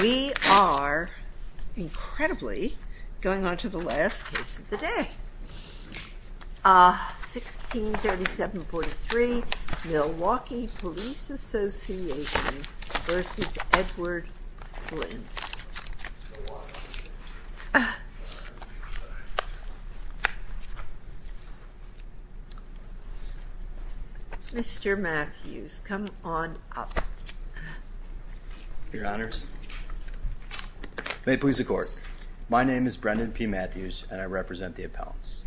We are, incredibly, going on to the last case of the day. 1637.43 Milwaukee Police Association v. Edward Flynn Mr. Matthews, come on up. Your Honors, may it please the Court, my name is Brendan P. Matthews and I represent the appellants.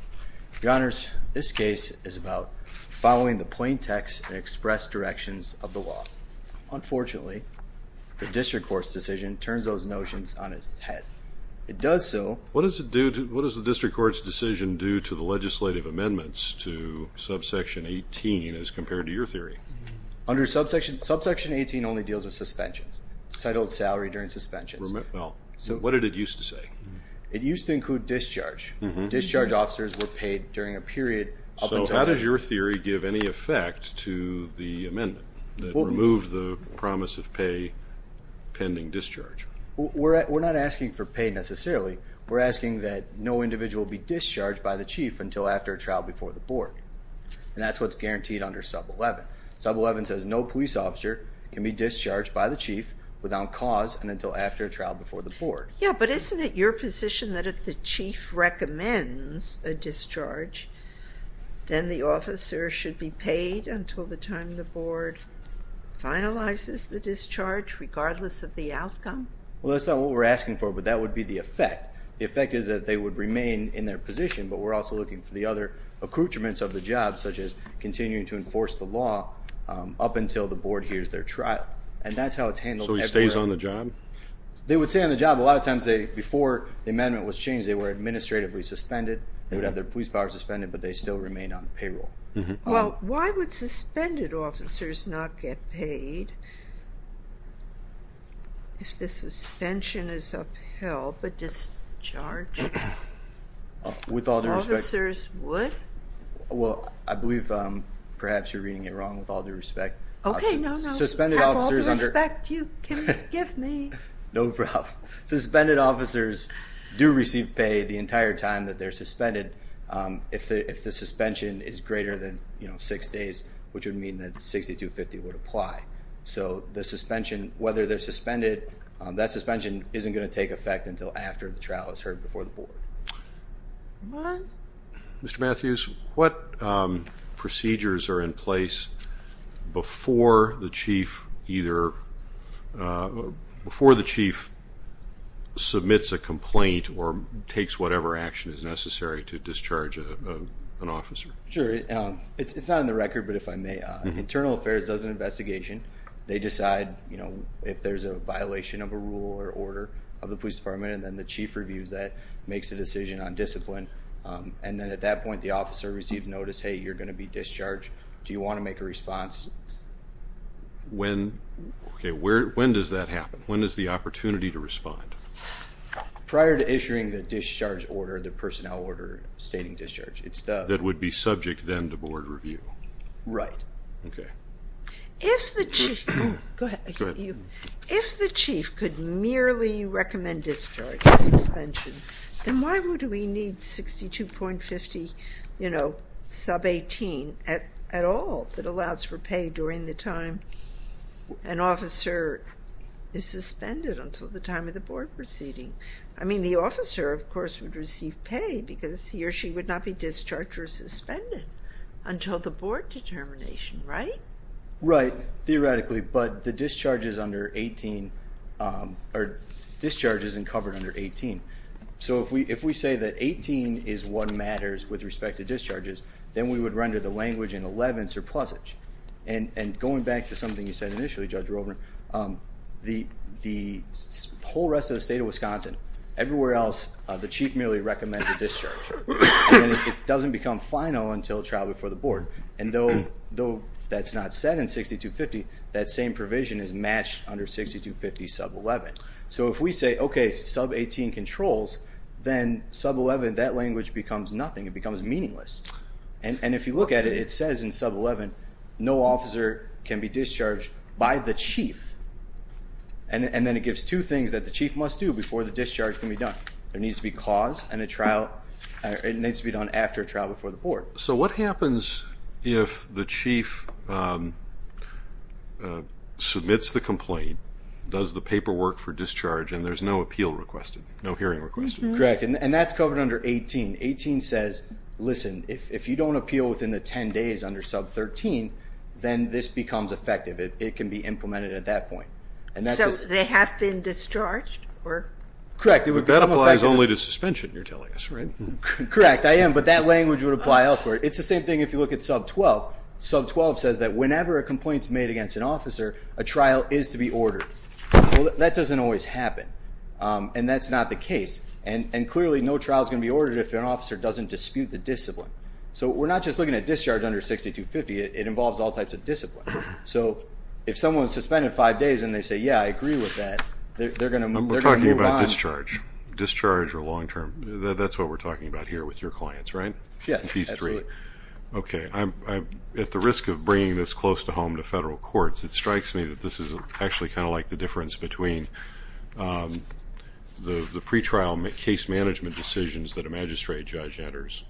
Your Honors, this case is about following the plain text and express directions of the law. Unfortunately, the District Court's decision turns those notions on its head. It does so... What does the District Court's decision do to the legislative amendments to subsection 18 as compared to your theory? Subsection 18 only deals with suspensions. Settled salary during suspensions. What did it used to say? It used to include discharge. Discharge officers were paid during a period... So how does your theory give any effect to the amendment that removes the promise of pay pending discharge? We're not asking for pay, necessarily. We're asking that no individual be discharged by the Chief until after a trial before the Board. And that's what's guaranteed under sub 11. Sub 11 says no police officer can be discharged by the Chief without cause and until after a trial before the Board. Yeah, but isn't it your position that if the Chief recommends a discharge, then the officer should be paid until the time the Board finalizes the discharge regardless of the outcome? Well, that's not what we're asking for, but that would be the effect. The effect is that they would remain in their position, but we're also looking for the other accoutrements of the job, such as continuing to enforce the law up until the Board hears their trial. And that's how it's handled everywhere. So he stays on the job? They would stay on the job. A lot of times, before the amendment was changed, they were administratively suspended. They would have their police power suspended, but they still remain on payroll. Well, why would suspended officers not get paid if the suspension is upheld, but discharge officers would? Well, I believe perhaps you're reading it wrong. With all due respect... Okay, no, no. With all due respect, you can forgive me. No problem. Suspended officers do receive pay the entire time that they're suspended. If the suspension is greater than six days, which would mean that 6250 would apply. So the suspension, whether they're suspended, that suspension isn't going to take effect until after the trial is heard before the Board. All right. Mr. Matthews, what procedures are in place before the chief either... Before the chief submits a complaint or takes whatever action is necessary to discharge an officer? Sure. It's not on the record, but if I may, Internal Affairs does an investigation. They decide if there's a violation of a rule or order of the police department, and then the chief reviews that, makes a decision on discipline. And then at that point, the officer receives notice, hey, you're going to be discharged. Do you want to make a response? When does that happen? When is the opportunity to respond? Prior to issuing the discharge order, the personnel order stating discharge. That would be subject then to Board review. Right. Okay. If the chief could merely recommend discharge and suspension, then why would we need 62.50, you know, sub 18 at all that allows for pay during the time an officer is suspended until the time of the Board proceeding? I mean, the officer, of course, would receive pay because he or she would not be discharged or suspended until the Board determination, right? Right. Theoretically, but the discharge is under 18, or discharge isn't covered under 18. So if we say that 18 is what matters with respect to discharges, then we would render the language in 11 surplusage. And going back to something you said initially, Judge Rovner, the whole rest of the state of Wisconsin, everywhere else, the chief merely recommends a discharge. It doesn't become final until trial before the Board. And though that's not set in 62.50, that same provision is matched under 62.50 sub 11. So if we say, okay, sub 18 controls, then sub 11, that language becomes nothing. It becomes meaningless. And if you look at it, it says in sub 11, no officer can be discharged by the chief. And then it gives two things that the chief must do before the discharge can be done. There needs to be cause and a trial. It needs to be done after a trial before the Board. So what happens if the chief submits the complaint, does the paperwork for discharge, and there's no appeal requested, no hearing requested? Correct. And that's covered under 18. 18 says, listen, if you don't appeal within the 10 days under sub 13, then this becomes effective. It can be implemented at that point. So they have been discharged? Correct. That applies only to suspension, you're telling us, right? Correct, I am. But that language would apply elsewhere. It's the same thing if you look at sub 12. Sub 12 says that whenever a complaint is made against an officer, a trial is to be ordered. Well, that doesn't always happen. And that's not the case. And clearly, no trial is going to be ordered if an officer doesn't dispute the discipline. So we're not just looking at discharge under 6250, it involves all types of discipline. So if someone is suspended five days and they say, yeah, I agree with that, they're going to move on. We're talking about discharge. Discharge or long-term, that's what we're talking about here with your clients, right? Yeah, absolutely. These three. Okay. At the risk of bringing this close to home to federal courts, it strikes me that this is actually kind of like the difference between the pretrial case management decisions that a magistrate judge enters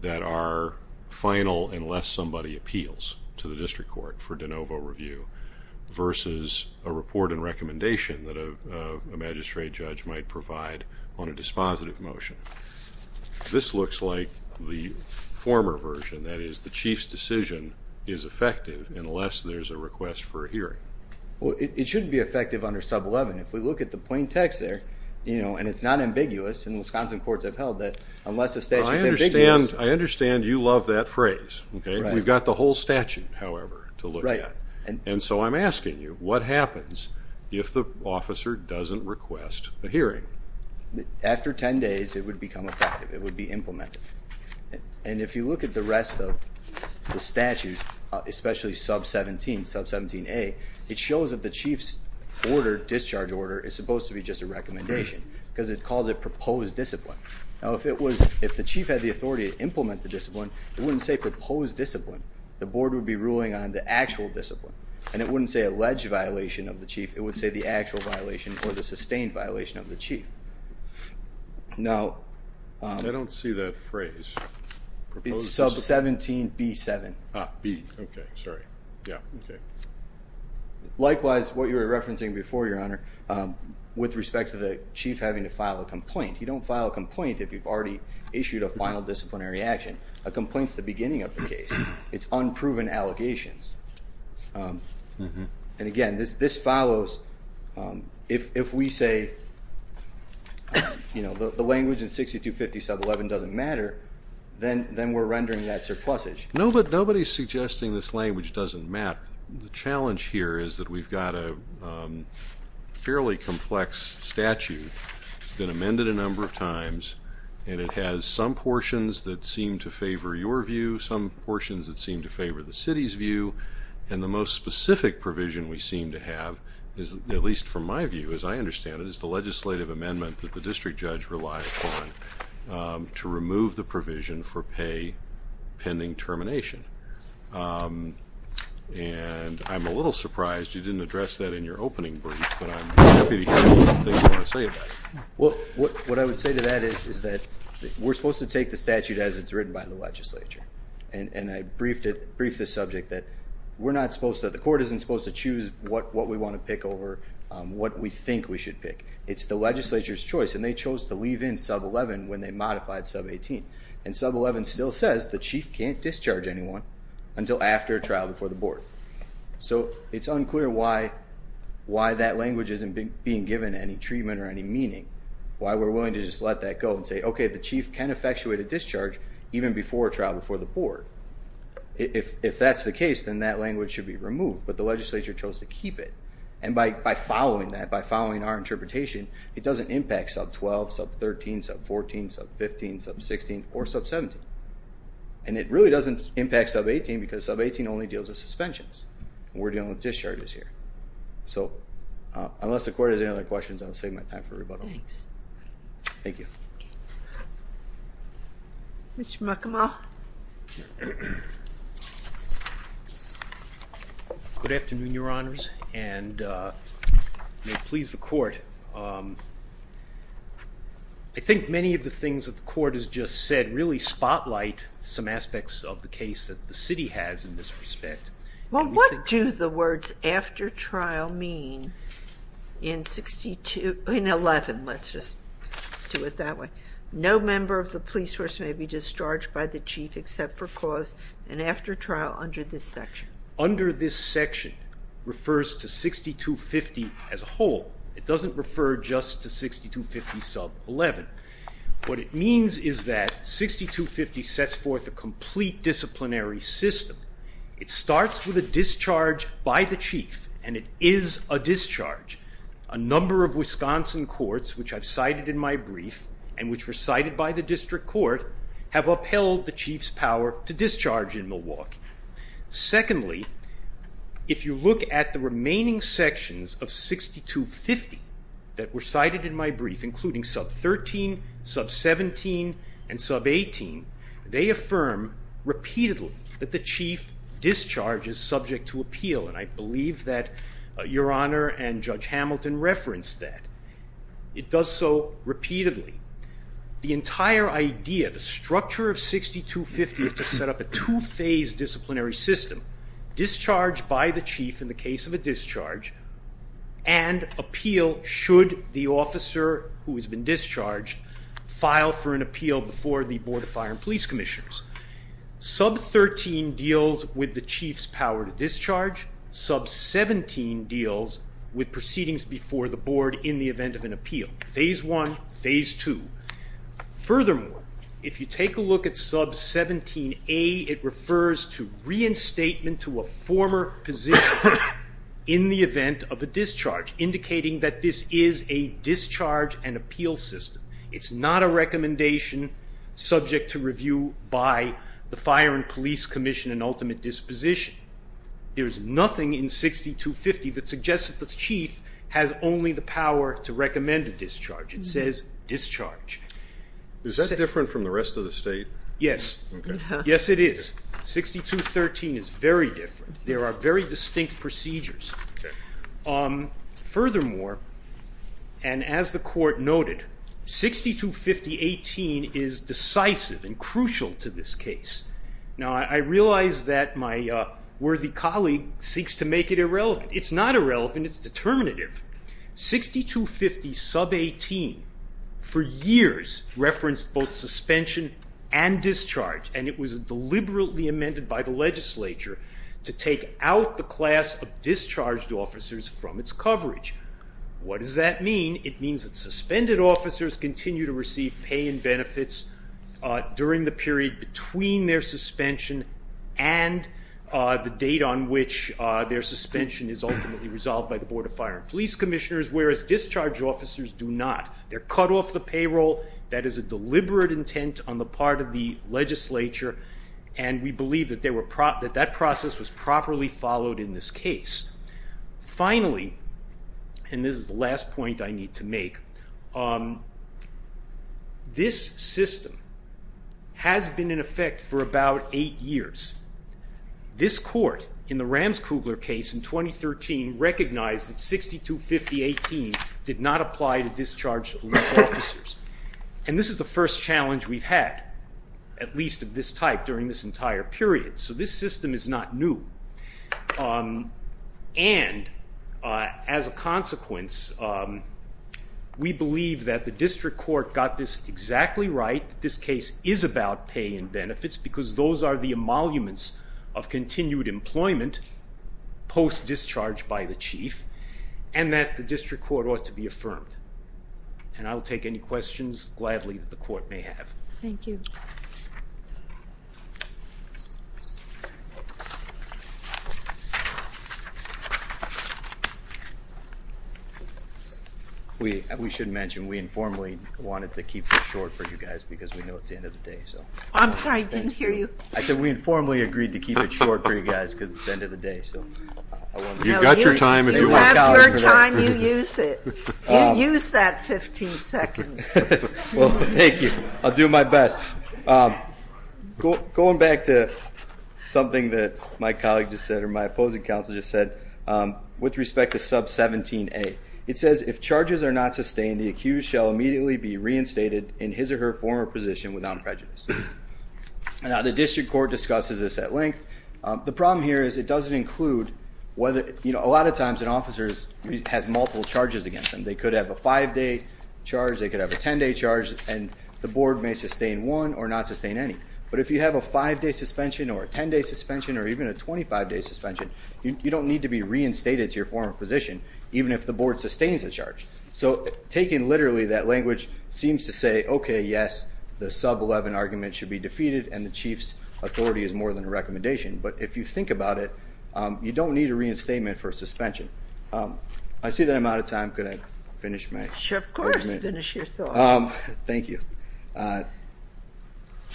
that are final unless somebody appeals to the district court for de novo review versus a report and recommendation that a magistrate judge might provide on a dispositive motion. This looks like the former version. That is, the chief's decision is effective unless there's a request for a hearing. Well, it shouldn't be effective under sub 11. If we look at the plain text there, and it's not ambiguous, and Wisconsin courts have held that unless a statute is ambiguous. I understand you love that phrase. We've got the whole statute, however, to look at. And so I'm asking you, what happens if the officer doesn't request a hearing? After 10 days, it would become effective. It would be implemented. And if you look at the rest of the statute, especially sub 17, sub 17A, it shows that the chief's order, discharge order, is supposed to be just a recommendation because it calls it proposed discipline. Now, if the chief had the authority to implement the discipline, it wouldn't say proposed discipline. The board would be ruling on the actual discipline. And it wouldn't say alleged violation of the chief. It would say the actual violation or the sustained violation of the chief. Now, I don't see that phrase. It's sub 17B7. Ah, B. Okay. Sorry. Yeah. Okay. Likewise, what you were referencing before, Your Honor, with respect to the chief having to file a complaint, you don't file a complaint if you've already issued a final disciplinary action. A complaint is the beginning of the case. It's unproven allegations. And, again, this follows if we say, you know, the language in 6250 sub 11 doesn't matter, then we're rendering that surplusage. No, but nobody is suggesting this language doesn't matter. The challenge here is that we've got a fairly complex statute. It's been amended a number of times, and it has some portions that seem to favor your view, some portions that seem to favor the city's view, and the most specific provision we seem to have, at least from my view, as I understand it, is the legislative amendment that the district judge relies on to remove the provision for pay pending termination. And I'm a little surprised you didn't address that in your opening brief, but I'm happy to hear what you want to say about it. Well, what I would say to that is that we're supposed to take the statute as it's written by the legislature. And I briefed the subject that we're not supposed to, the court isn't supposed to choose what we want to pick over what we think we should pick. It's the legislature's choice, and they chose to leave in sub 11 when they modified sub 18. And sub 11 still says the chief can't discharge anyone until after a trial before the board. So it's unclear why that language isn't being given any treatment or any meaning, why we're willing to just let that go and say, okay, the chief can effectuate a discharge even before a trial before the board. If that's the case, then that language should be removed, but the legislature chose to keep it. And by following that, by following our interpretation, it doesn't impact sub 12, sub 13, sub 14, sub 15, sub 16, or sub 17. And it really doesn't impact sub 18 because sub 18 only deals with suspensions. We're dealing with discharges here. So unless the court has any other questions, I'll save my time for rebuttal. Thanks. Thank you. Mr. McAmal. Good afternoon, Your Honors, and may it please the court. I think many of the things that the court has just said really spotlight some aspects of the case that the city has in this respect. Well, what do the words after trial mean in 62, in 11? Let's just do it that way. No member of the police force may be discharged by the chief except for cause and after trial under this section. Under this section refers to 6250 as a whole. It doesn't refer just to 6250 sub 11. What it means is that 6250 sets forth a complete disciplinary system. It starts with a discharge by the chief, and it is a discharge. A number of Wisconsin courts, which I've cited in my brief and which were cited by the district court, have upheld the chief's power to discharge in Milwaukee. Secondly, if you look at the remaining sections of 6250 that were cited in my brief, including sub 13, sub 17, and sub 18, they affirm repeatedly that the chief discharge is subject to appeal, and I believe that Your Honor and Judge Hamilton referenced that. It does so repeatedly. The entire idea, the structure of 6250 is to set up a two-phase disciplinary system. Discharge by the chief in the case of a discharge, and appeal should the officer who has been discharged file for an appeal before the Board of Fire and Police Commissioners. Sub 13 deals with the chief's power to discharge. Sub 17 deals with proceedings before the board in the event of an appeal. Phase one, phase two. Furthermore, if you take a look at sub 17A, it refers to reinstatement to a former position in the event of a discharge, indicating that this is a discharge and appeal system. It's not a recommendation subject to review by the Fire and Police Commission and ultimate disposition. There's nothing in 6250 that suggests that the chief has only the power to recommend a discharge. It says discharge. Is that different from the rest of the state? Yes. Yes, it is. 6213 is very different. There are very distinct procedures. Furthermore, and as the court noted, 6250.18 is decisive and crucial to this case. Now, I realize that my worthy colleague seeks to make it irrelevant. It's not irrelevant. It's determinative. 6250.18 for years referenced both suspension and discharge, and it was deliberately amended by the legislature to take out the class of discharged officers from its coverage. What does that mean? It means that suspended officers continue to receive pay and benefits during the period between their suspension and the date on which their suspension is ultimately resolved by the Board of Fire and Police Commissioners, whereas discharge officers do not. They're cut off the payroll. That is a deliberate intent on the part of the legislature, and we believe that that process was properly followed in this case. Finally, and this is the last point I need to make, this system has been in effect for about eight years. This court in the Rams-Kugler case in 2013 recognized that 6250.18 did not apply to discharged officers, and this is the first challenge we've had, at least of this type, during this entire period. So this system is not new. And as a consequence, we believe that the district court got this exactly right, that this case is about pay and benefits because those are the emoluments of continued employment post-discharge by the chief, and that the district court ought to be affirmed. And I'll take any questions gladly that the court may have. Thank you. We should mention we informally wanted to keep this short for you guys because we know it's the end of the day. I'm sorry. I didn't hear you. I said we informally agreed to keep it short for you guys because it's the end of the day. You've got your time. You have your time. You use it. You use that 15 seconds. Well, thank you. I'll do my best. Going back to something that my colleague just said, or my opposing counsel just said, with respect to sub-17A, it says if charges are not sustained, the accused shall immediately be reinstated in his or her former position without prejudice. Now, the district court discusses this at length. The problem here is it doesn't include whether, you know, a lot of times an officer has multiple charges against them. They could have a five-day charge, they could have a 10-day charge, and the board may sustain one or not sustain any. But if you have a five-day suspension or a 10-day suspension or even a 25-day suspension, you don't need to be reinstated to your former position, even if the board sustains the charge. So taken literally, that language seems to say, okay, yes, the sub-11 argument should be defeated, and the chief's authority is more than a recommendation. But if you think about it, you don't need a reinstatement for a suspension. I see that I'm out of time. Could I finish my argument? Sure, of course. Finish your thought. Thank you.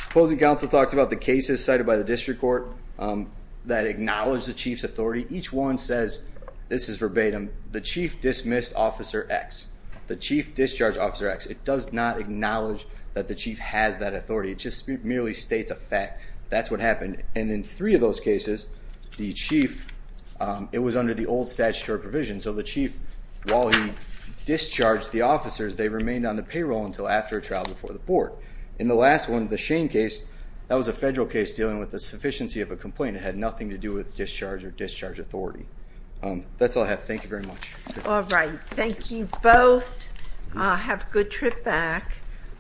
Opposing counsel talked about the cases cited by the district court that acknowledge the chief's authority. Each one says, this is verbatim, the chief dismissed Officer X. The chief discharged Officer X. It does not acknowledge that the chief has that authority. It just merely states a fact. That's what happened. And in three of those cases, the chief, it was under the old statutory provision, so the chief, while he discharged the officers, they remained on the payroll until after a trial before the board. In the last one, the Shane case, that was a federal case dealing with the sufficiency of a complaint. It had nothing to do with discharge or discharge authority. That's all I have. Thank you very much. All right. Thank you both. Have a good trip back.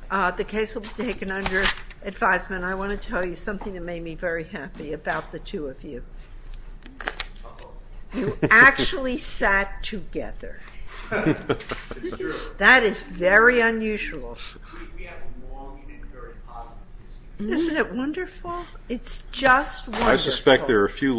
The case will be taken under advisement. And I want to tell you something that made me very happy about the two of you. You actually sat together. That is very unusual. Isn't it wonderful? It's just wonderful.